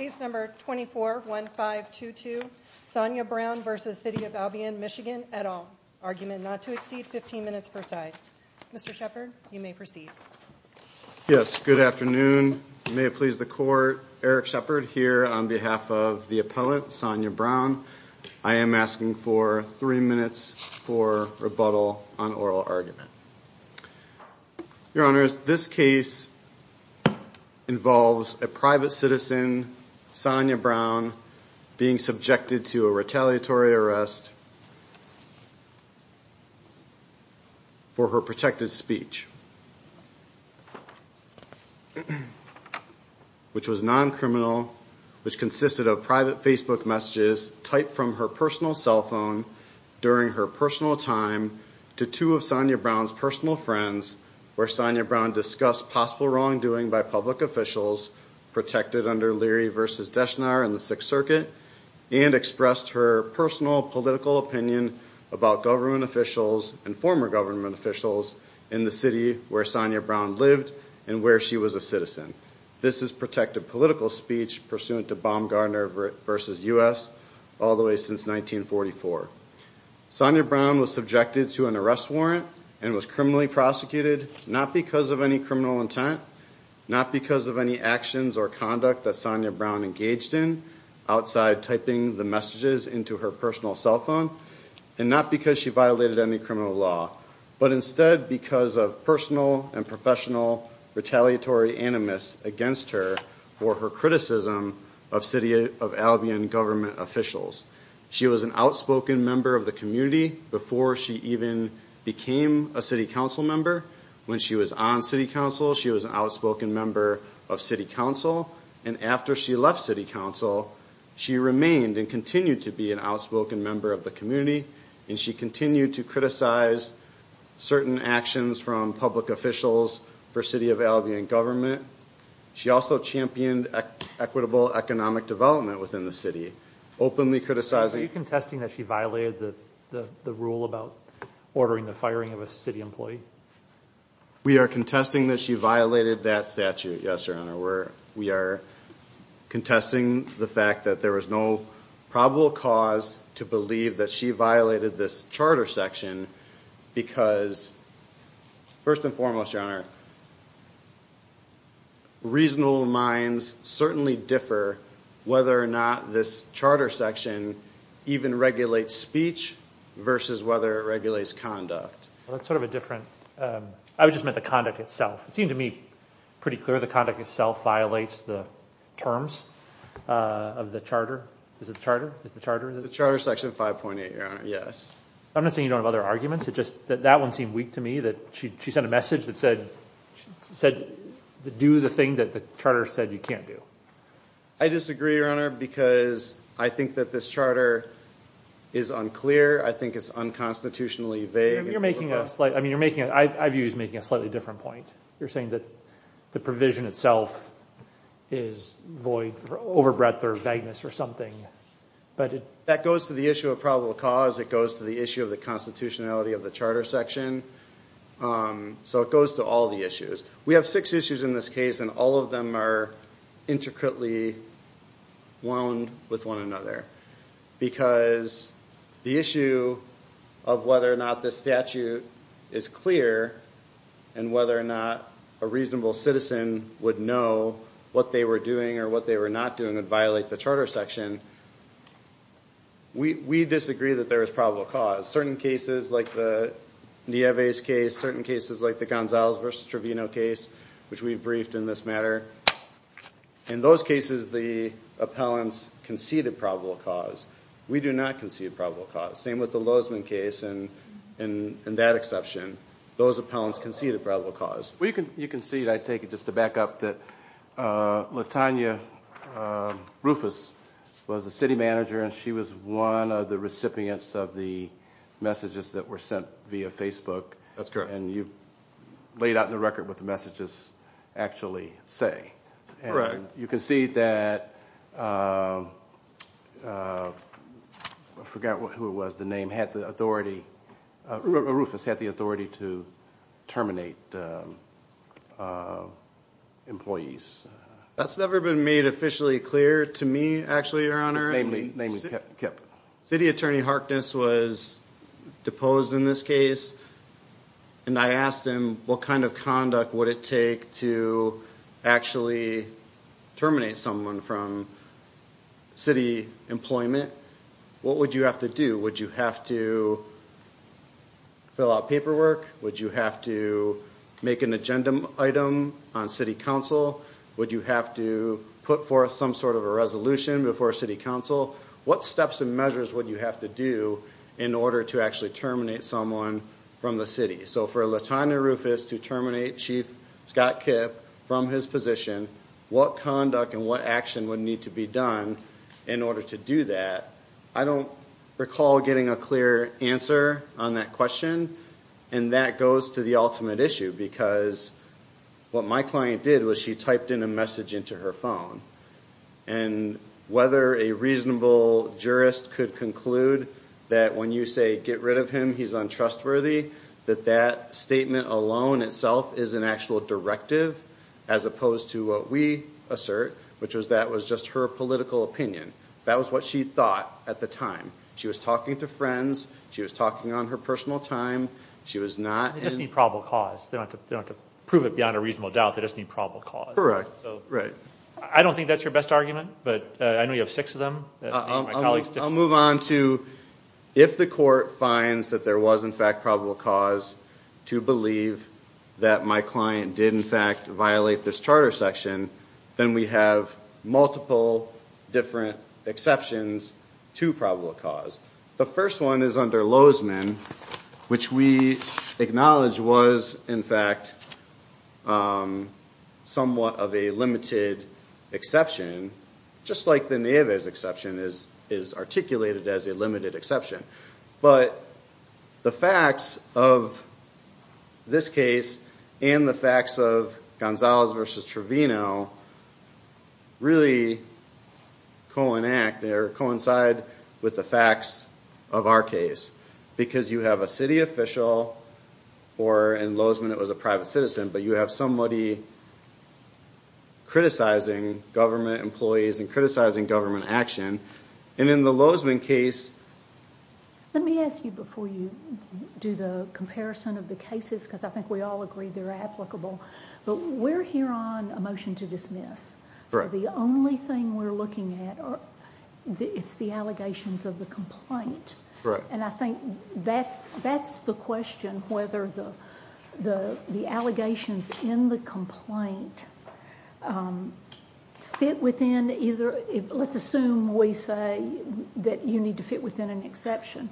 24-1522 Sonia Brown v. City of Albion, MI, et al., Argument not to exceed 15 minutes per side. Mr. Shepard, you may proceed. Yes, good afternoon. May it please the Court, Eric Shepard here on behalf of the appellant, Sonia Brown. I am asking for three minutes for rebuttal on oral argument. Your Honors, this case involves a private citizen, Sonia Brown, being subjected to a retaliatory arrest for her protected speech, which was non-criminal, which consisted of private Facebook messages typed from her personal cell phone during her personal time to two of Sonia Brown's personal friends, where Sonia Brown discussed possible wrongdoing by public officials protected under Leary v. Deschenar and the Sixth Circuit, and expressed her personal political opinion about government officials and former government officials in the city where Sonia Brown lived and where she was a citizen. This is protected political speech pursuant to Baumgartner v. U.S. all the way since 1944. Sonia Brown was subjected to an arrest warrant and was criminally prosecuted not because of any criminal intent, not because of any actions or conduct that Sonia Brown engaged in outside typing the messages into her personal cell phone, and not because she violated any criminal law, but instead because of personal and professional retaliatory animus against her for her criticism of city of Albion government officials. She was an outspoken member of the community before she even became a city council member. When she was on city council, she was an outspoken member of city council, and after she left city council, she remained and continued to be an outspoken member of the community, and she continued to criticize certain actions from public officials for city of Albion government. She also championed equitable economic development within the city, openly criticizing- Are you contesting that she violated the rule about ordering the firing of a city employee? We are contesting that she violated that statute, yes, your honor. We are contesting the fact that there was no probable cause to believe that she violated this charter section because, first and foremost, your honor, reasonable minds certainly differ whether or not this charter section even regulates speech versus whether it regulates conduct. That's sort of a different- I just meant the conduct itself. It seemed to me pretty clear the conduct itself violates the terms of the charter. Is it the charter? Is it the charter? The charter section 5.8, your honor, yes. I'm not saying you don't have other arguments, it's just that that one seemed weak to me, that she sent a message that said, do the thing that the charter said you can't do. I disagree, your honor, because I think that this charter is unclear, I think it's unconstitutionally vague. You're making a slight- I mean, you're making- I view you as making a slightly different point. You're saying that the provision itself is void or overbreadth or vagueness or something, but it- That goes to the issue of probable cause, it goes to the issue of the constitutionality of the charter section, so it goes to all the issues. We have six issues in this case and all of them are intricately wound with one another because the issue of whether or not the statute is clear and whether or not a reasonable citizen would know what they were doing or what they were not doing would violate the charter section. We disagree that there is probable cause. Certain cases like the Nieves case, certain cases like the Gonzalez versus Trevino case, which we've briefed in this matter, in those cases the appellants conceded probable cause. We do not concede probable cause. Same with the Lozman case and that exception. Those appellants conceded probable cause. You concede, I take it, just to back up, that LaTanya Rufus was the city manager and she was one of the recipients of the messages that were sent via Facebook and you've laid out in the record what the messages actually say. You concede that, I forgot who it was, the name, had the authority, Rufus had the authority to terminate employees. That's never been made officially clear to me, actually, your honor. City attorney Harkness was deposed in this case and I asked him what kind of conduct would it take to actually terminate someone from city employment. What would you have to do? Would you have to fill out paperwork? Would you have to make an agenda item on city council? Would you have to put forth some sort of a resolution before city council? What steps and measures would you have to do in order to actually terminate someone from the city? So for LaTanya Rufus to terminate Chief Scott Kipp from his position, what conduct and what action would need to be done in order to do that? I don't recall getting a clear answer on that question and that goes to the ultimate issue because what my client did was she typed in a message into her phone and whether a reasonable jurist could conclude that when you say, get rid of him, he's untrustworthy, that that statement alone itself is an actual directive as opposed to what we assert, which was that was just her political opinion. That was what she thought at the time. She was talking to friends. She was talking on her personal time. She was not in... They just need probable cause. They don't have to prove it beyond a reasonable doubt. They just need probable cause. Right. I don't think that's your best argument, but I know you have six of them. I'll move on to if the court finds that there was in fact probable cause to believe that my client did in fact violate this charter section, then we have multiple different exceptions to probable cause. The first one is under Lozman, which we acknowledge was in fact somewhat of a limited exception, just like the Neves exception is articulated as a limited exception. But the facts of this case and the facts of Gonzalez versus Trevino really coincide with the facts of our case, because you have a city official or in Lozman it was a private citizen, but you have somebody criticizing government employees and criticizing government action. In the Lozman case... Let me ask you before you do the comparison of the cases, because I think we all agree they're applicable, but we're here on a motion to dismiss. The only thing we're looking at, it's the allegations of the complaint. I think that's the question, whether the allegations in the complaint fit within either... Let's assume we say that you need to fit within an exception.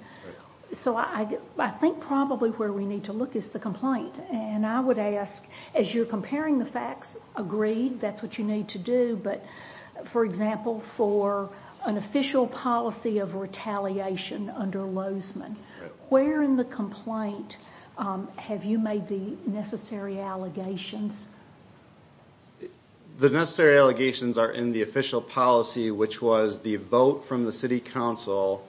I think probably where we need to look is the complaint. I would ask, as you're comparing the facts, agreed, that's what you need to do, but for example for an official policy of retaliation under Lozman, where in the complaint have you made the necessary allegations? The necessary allegations are in the official policy, which was the vote from the city council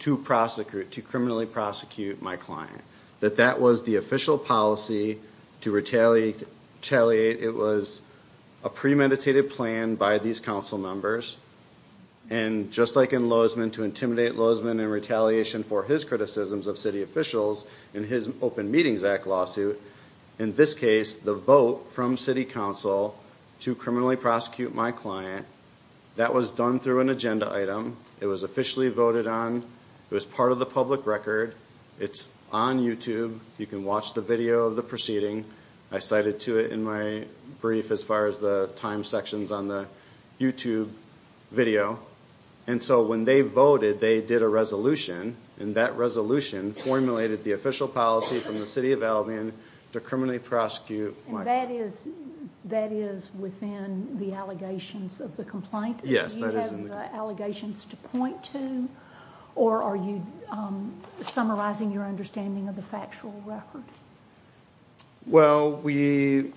to prosecute, to criminally prosecute my client. That that was the official policy to retaliate. It was a premeditated plan by these council members, and just like in Lozman to intimidate Lozman in retaliation for his criticisms of city officials in his Open Meetings Act lawsuit, in this case, the vote from city council to criminally prosecute my client, that was done through an agenda item. It was officially voted on, it was part of the public record, it's on YouTube, you can watch the video of the proceeding. I cited to it in my brief as far as the time sections on the YouTube video. And so when they voted, they did a resolution, and that resolution formulated the official policy from the city of Albion to criminally prosecute my client. And that is within the allegations of the complaint? Yes, that is in the complaint. Do you have the allegations to point to, or are you summarizing your understanding of the factual record? Well we,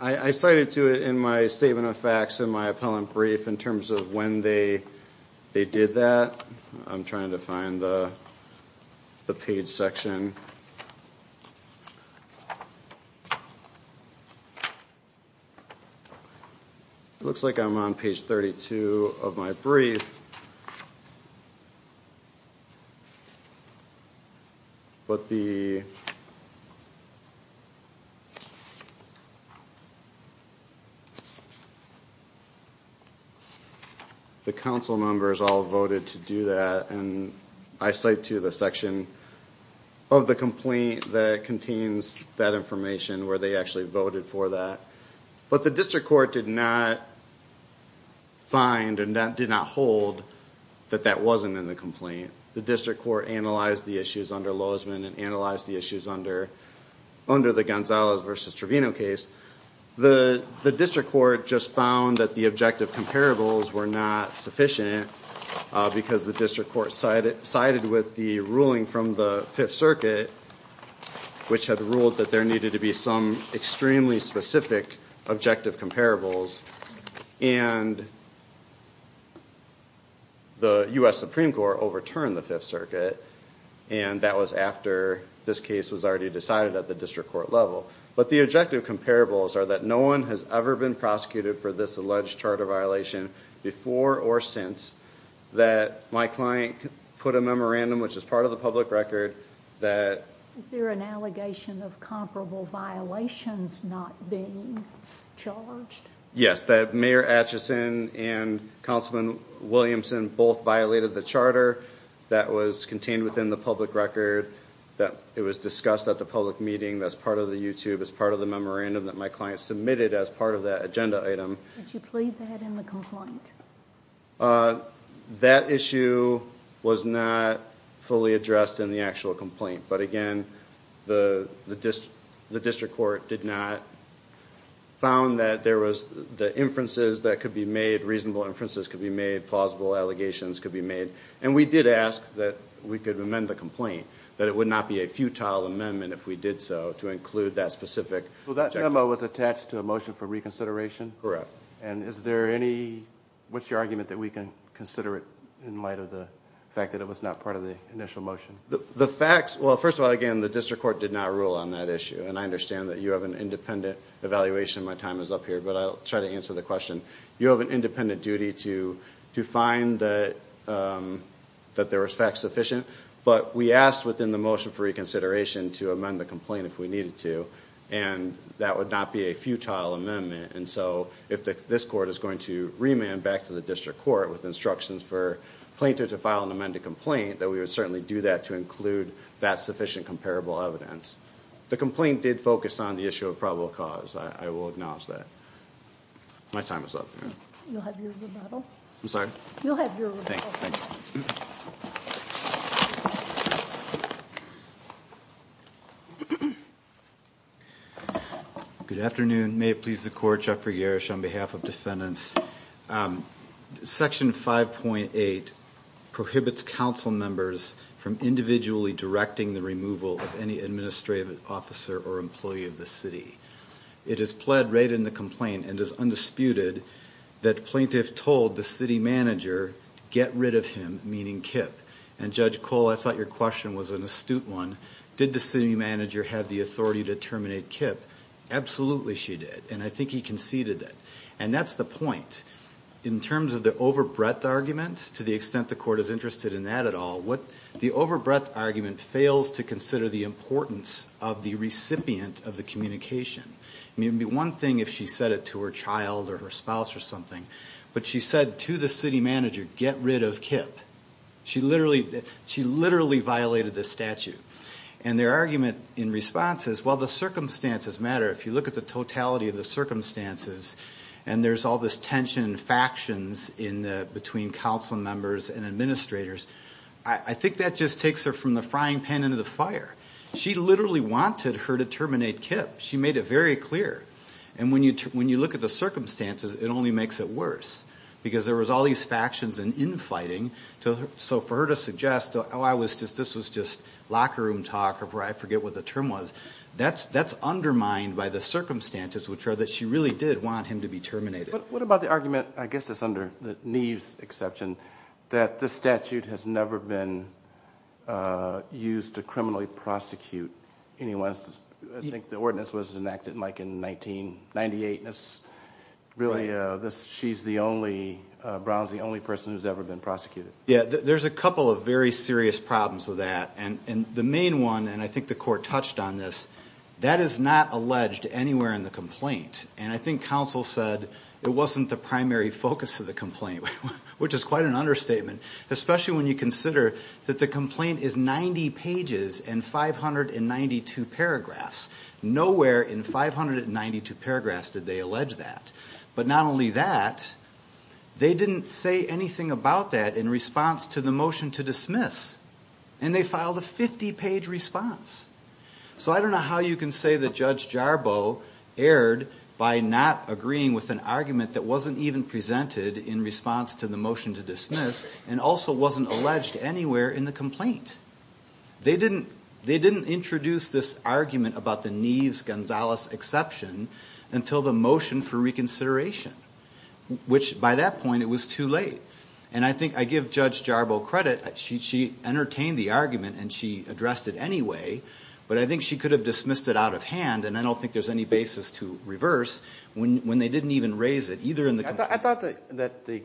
I cited to it in my Statement of Facts, in my appellant brief, in terms of when they did that, I'm trying to find the page section, it looks like I'm on page 32 of my brief, but the council members all voted to do that, and I cite to the section of the complaint that contains that information where they actually voted for that. But the district court did not find and did not hold that that wasn't in the complaint. The district court analyzed the issues under Loisman and analyzed the issues under the Gonzalez v. Trevino case. The district court just found that the objective comparables were not sufficient because the district court sided with the ruling from the Fifth Circuit, which had ruled that there needed to be some extremely specific objective comparables, and the U.S. Supreme Court overturned the Fifth Circuit, and that was after this case was already decided at the district court level. But the objective comparables are that no one has ever been prosecuted for this alleged charter violation before or since, that my client put a memorandum, which is part of the public record, that... Is there an allegation of comparable violations not being charged? Yes, that Mayor Atchison and Councilman Williamson both violated the charter that was contained within the public record, that it was discussed at the public meeting as part of the YouTube, as part of the memorandum that my client submitted as part of that agenda item. Did you plead that in the complaint? That issue was not fully addressed in the actual complaint, but again, the district court did not found that there was the inferences that could be made, reasonable inferences could be made, plausible allegations could be made, and we did ask that we could amend the complaint, that it would not be a futile amendment if we did so to include that specific objective. So that memo was attached to a motion for reconsideration? Correct. And is there any... What's your argument that we can consider it in light of the fact that it was not part of the initial motion? The facts... Well, first of all, again, the district court did not rule on that issue, and I understand that you have an independent evaluation. My time is up here, but I'll try to answer the question. You have an independent duty to find that there was fact sufficient, but we asked within the motion for reconsideration to amend the complaint if we needed to, and that would not be a futile amendment, and so if this court is going to remand back to the district court with instructions for plaintiff to file an amended complaint, that we would certainly do that to include that sufficient comparable evidence. The complaint did focus on the issue of probable cause, I will acknowledge that. My time is up. You'll have your rebuttal. I'm sorry? You'll have your rebuttal. Thank you. Good afternoon, may it please the court, Geoffrey Garish on behalf of defendants. Section 5.8 prohibits council members from individually directing the removal of any administrative officer or employee of the city. It is pled right in the complaint and is undisputed that plaintiff told the city manager get rid of him, meaning Kip, and Judge Cole, I thought your question was an astute one. Did the city manager have the authority to terminate Kip? Absolutely she did, and I think he conceded it, and that's the point. In terms of the over-breadth argument, to the extent the court is interested in that at all, the over-breadth argument fails to consider the importance of the recipient of the communication. I mean, it would be one thing if she said it to her child or her spouse or something, but she said to the city manager, get rid of Kip. She literally violated the statute. And their argument in response is, well, the circumstances matter. If you look at the totality of the circumstances, and there's all this tension, factions between council members and administrators, I think that just takes her from the frying pan into the fire. She literally wanted her to terminate Kip. She made it very clear. And when you look at the circumstances, it only makes it worse, because there was all these factions and infighting. So for her to suggest, oh, this was just locker room talk, or I forget what the term was, that's undermined by the circumstances, which are that she really did want him to be terminated. What about the argument, I guess it's under Neve's exception, that the statute has never been used to criminally prosecute anyone? I think the ordinance was enacted in 1998, and she's the only, Brown's the only person who's ever been prosecuted. There's a couple of very serious problems with that, and the main one, and I think the court touched on this, that is not alleged anywhere in the complaint. And I think council said it wasn't the primary focus of the complaint, which is quite an especially when you consider that the complaint is 90 pages and 592 paragraphs. Nowhere in 592 paragraphs did they allege that. But not only that, they didn't say anything about that in response to the motion to dismiss. And they filed a 50-page response. So I don't know how you can say that Judge Jarboe erred by not agreeing with an argument that wasn't even presented in response to the motion to dismiss, and also wasn't alleged anywhere in the complaint. They didn't introduce this argument about the Neve's-Gonzalez exception until the motion for reconsideration, which by that point, it was too late. And I think I give Judge Jarboe credit. She entertained the argument, and she addressed it anyway, but I think she could have dismissed it out of hand, and I don't think there's any basis to reverse when they didn't even raise it. I thought that the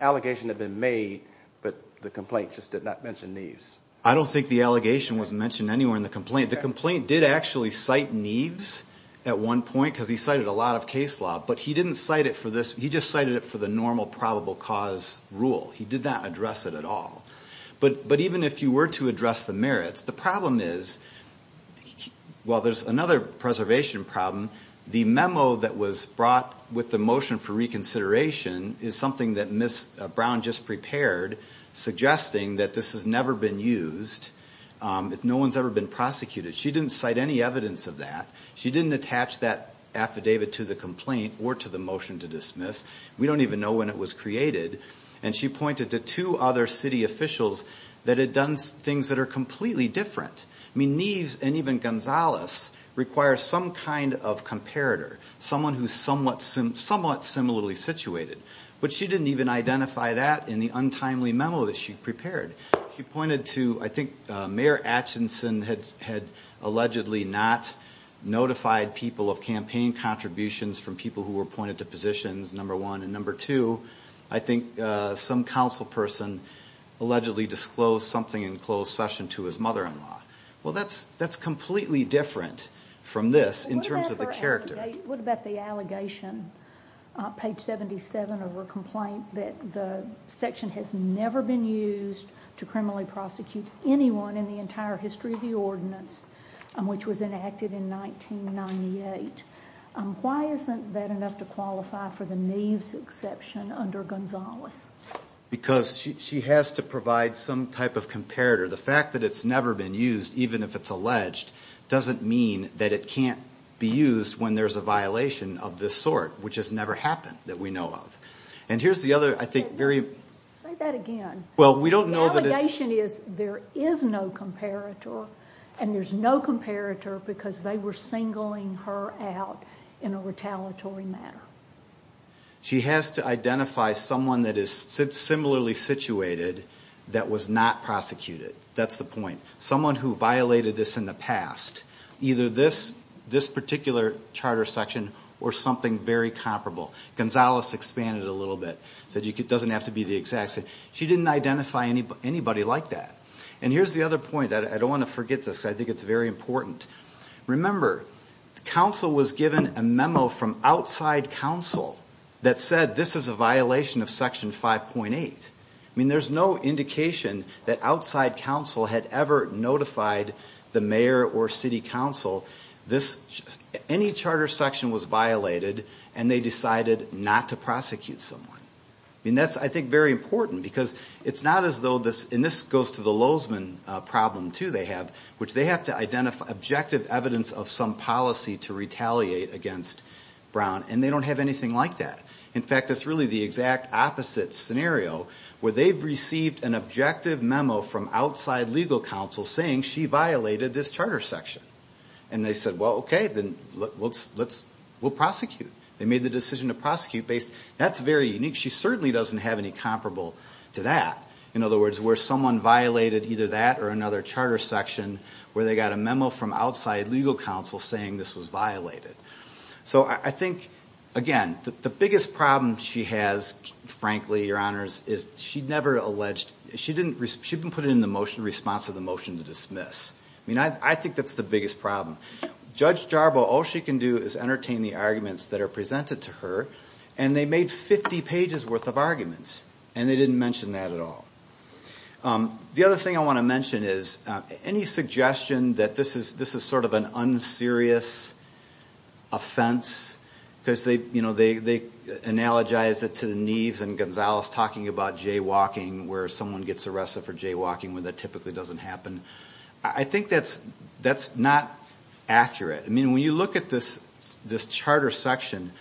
allegation had been made, but the complaint just did not mention Neve's. I don't think the allegation was mentioned anywhere in the complaint. The complaint did actually cite Neve's at one point, because he cited a lot of case law, but he didn't cite it for this. He just cited it for the normal probable cause rule. He did not address it at all. But even if you were to address the merits, the problem is, while there's another preservation problem, the memo that was brought with the motion for reconsideration is something that Ms. Brown just prepared, suggesting that this has never been used, that no one's ever been prosecuted. She didn't cite any evidence of that. She didn't attach that affidavit to the complaint or to the motion to dismiss. We don't even know when it was created. And she pointed to two other city officials that had done things that are completely different. Neve's and even Gonzales require some kind of comparator, someone who's somewhat similarly situated. But she didn't even identify that in the untimely memo that she prepared. She pointed to, I think, Mayor Atchison had allegedly not notified people of campaign contributions from people who were appointed to positions, number one. And number two, I think some council person allegedly disclosed something in closed session to his mother-in-law. Well, that's completely different from this in terms of the character. What about the allegation, page 77 of her complaint, that the section has never been used to criminally prosecute anyone in the entire history of the ordinance, which was enacted in 1998? Why isn't that enough to qualify for the Neve's exception under Gonzales? Because she has to provide some type of comparator. The fact that it's never been used, even if it's alleged, doesn't mean that it can't be used when there's a violation of this sort, which has never happened, that we know of. And here's the other, I think, very... Say that again. Well, we don't know that it's... The allegation is there is no comparator, and there's no comparator because they were singling her out in a retaliatory manner. She has to identify someone that is similarly situated that was not prosecuted. That's the point. Someone who violated this in the past, either this particular charter section or something very comparable. Gonzales expanded it a little bit, said it doesn't have to be the exact same. She didn't identify anybody like that. And here's the other point. I don't want to forget this. I think it's very important. Remember, the council was given a memo from outside council that said this is a violation of section 5.8. There's no indication that outside council had ever notified the mayor or city council any charter section was violated, and they decided not to prosecute someone. That's, I think, very important because it's not as though this... And this goes to the Lozman problem, too, they have, which they have to identify objective evidence of some policy to retaliate against Brown, and they don't have anything like that. In fact, it's really the exact opposite scenario, where they've received an objective memo from outside legal council saying she violated this charter section. And they said, well, okay, then we'll prosecute. They made the decision to prosecute based... That's very unique. She certainly doesn't have any comparable to that. In other words, where someone violated either that or another charter section, where they got a memo from outside legal council saying this was violated. So I think, again, the biggest problem she has, frankly, your honors, is she'd never alleged... She didn't... She didn't put it in the motion response of the motion to dismiss. I think that's the biggest problem. Judge Jarbo, all she can do is entertain the arguments that are presented to her, and they made 50 pages worth of arguments, and they didn't mention that at all. The other thing I want to mention is, any suggestion that this is sort of an unserious offense, because they analogize it to the Neves and Gonzales talking about jaywalking, where someone gets arrested for jaywalking, where that typically doesn't happen. I think that's not accurate. When you look at this charter section,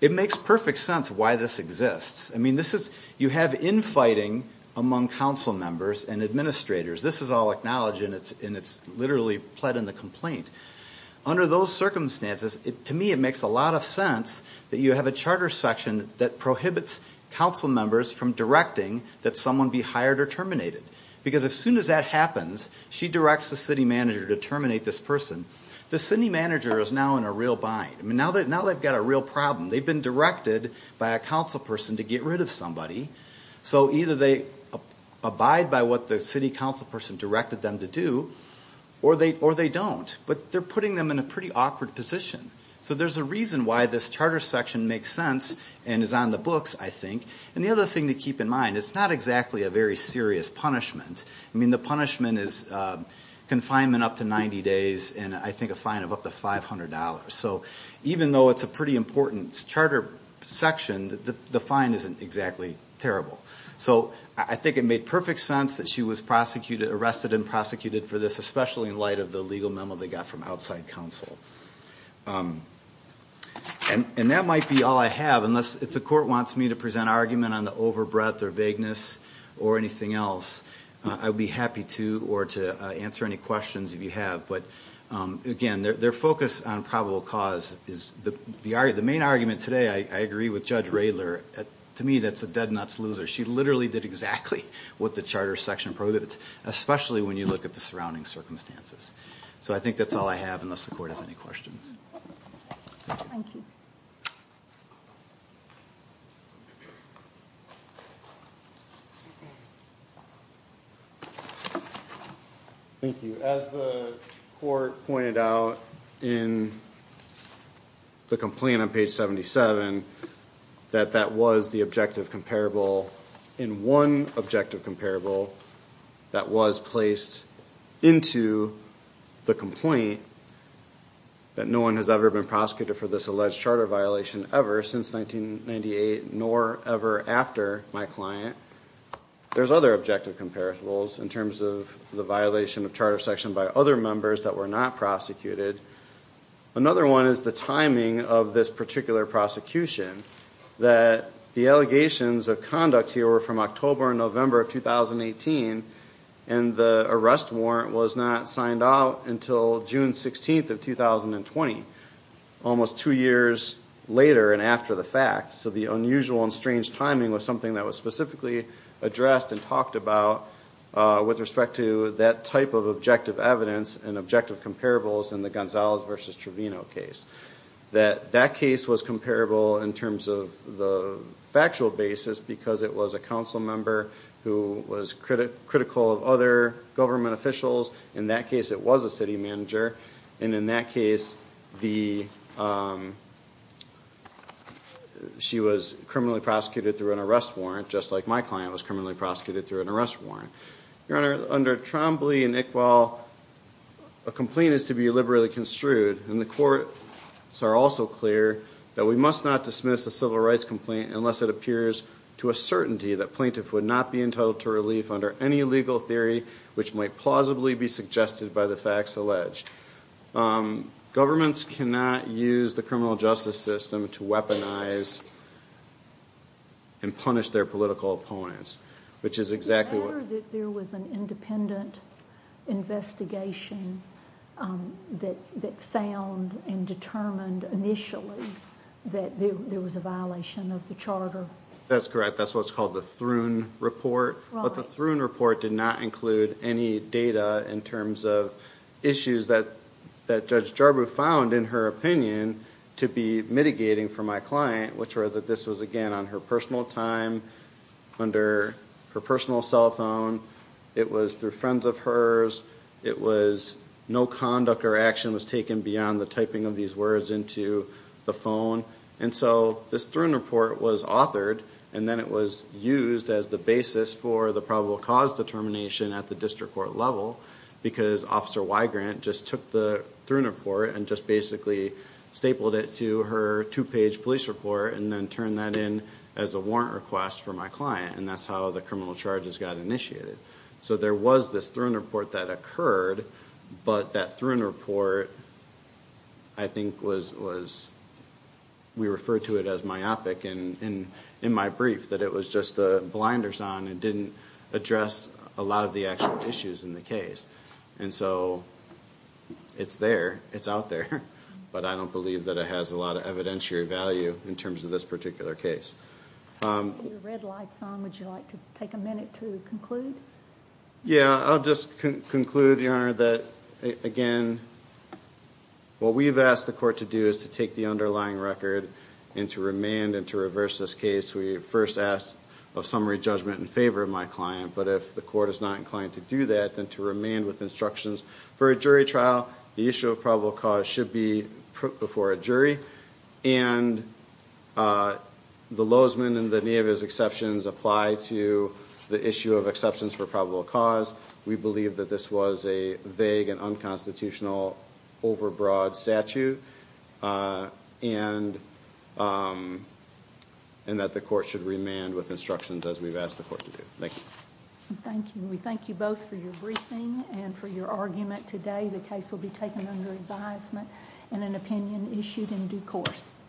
it makes perfect sense why this exists. You have infighting among council members and administrators. This is all acknowledged, and it's literally pled in the complaint. Under those circumstances, to me, it makes a lot of sense that you have a charter section that prohibits council members from directing that someone be hired or terminated. Because as soon as that happens, she directs the city manager to terminate this person. The city manager is now in a real bind. Now they've got a real problem. They've been directed by a council person to get rid of somebody. So either they abide by what the city council person directed them to do, or they don't. But they're putting them in a pretty awkward position. So there's a reason why this charter section makes sense and is on the books, I think. And the other thing to keep in mind, it's not exactly a very serious punishment. I mean, the punishment is confinement up to 90 days and, I think, a fine of up to $500. So even though it's a pretty important charter section, the fine isn't exactly terrible. So I think it made perfect sense that she was arrested and prosecuted for this, especially in light of the legal memo they got from outside counsel. And that might be all I have, unless if the court wants me to present an argument on the overbreadth or vagueness or anything else, I would be happy to or to answer any questions if you have. But again, their focus on probable cause is the main argument today, I agree with Judge Radler, to me, that's a dead nuts loser. She literally did exactly what the charter section prohibits, especially when you look at the surrounding circumstances. So I think that's all I have, unless the court has any questions. Thank you. Thank you. Thank you. As the court pointed out in the complaint on page 77, that that was the objective comparable. In one objective comparable that was placed into the complaint, that no one has ever been prosecuted for this alleged charter violation ever since 1998, nor ever after my client. There's other objective comparables in terms of the violation of charter section by other members that were not prosecuted. Another one is the timing of this particular prosecution, that the allegations of conduct here were from October and November of 2018, and the arrest warrant was not signed out until June 16th of 2020, almost two years later and after the fact. So the unusual and strange timing was something that was specifically addressed and talked about with respect to that type of objective evidence and objective comparables in the Gonzalez versus Trevino case. That that case was comparable in terms of the factual basis because it was a council member who was critical of other government officials. In that case, it was a city manager. And in that case, she was criminally prosecuted through an arrest warrant, just like my client was criminally prosecuted through an arrest warrant. Your Honor, under Trombley and Iqbal, a complaint is to be liberally construed. And the courts are also clear that we must not dismiss a civil rights complaint unless it appears to a certainty that plaintiff would not be entitled to relief under any legal theory which might plausibly be suggested by the facts alleged. Governments cannot use the criminal justice system to weaponize and punish their political opponents, which is exactly what... Is it fair that there was an independent investigation that found and determined initially that there was a violation of the charter? That's correct. That's what's called the Thrun report. But the Thrun report did not include any data in terms of issues that Judge Jarbo found, in her opinion, to be mitigating for my client, which were that this was, again, on her personal time, under her personal cell phone. It was through friends of hers. It was no conduct or action was taken beyond the typing of these words into the phone. And so this Thrun report was authored and then it was used as the basis for the probable cause determination at the district court level because Officer Weigrant just took the Thrun report and just basically stapled it to her two-page police report and then turned that in as a warrant request for my client. And that's how the criminal charges got initiated. So there was this Thrun report that occurred, but that Thrun report, I think, was... We refer to it as myopic in my brief, that it was just blinders on and didn't address a lot of the actual issues in the case. And so it's there, it's out there, but I don't believe that it has a lot of evidentiary value in terms of this particular case. Your red light's on. Would you like to take a minute to conclude? Yeah, I'll just conclude, Your Honor, that, again, what we've asked the court to do is to take the underlying record and to remand and to reverse this case. We first asked of summary judgment in favor of my client, but if the court is not inclined to do that, then to remand with instructions for a jury trial, the issue of probable cause should be put before a jury. And the Lozman and the Nevis exceptions apply to the issue of exceptions for probable cause. We believe that this was a vague and unconstitutional overbroad statute and that the court should remand with instructions as we've asked the court to do. Thank you. Thank you. We thank you both for your briefing and for your argument today. The case will be taken under advisement and an opinion issued in due course.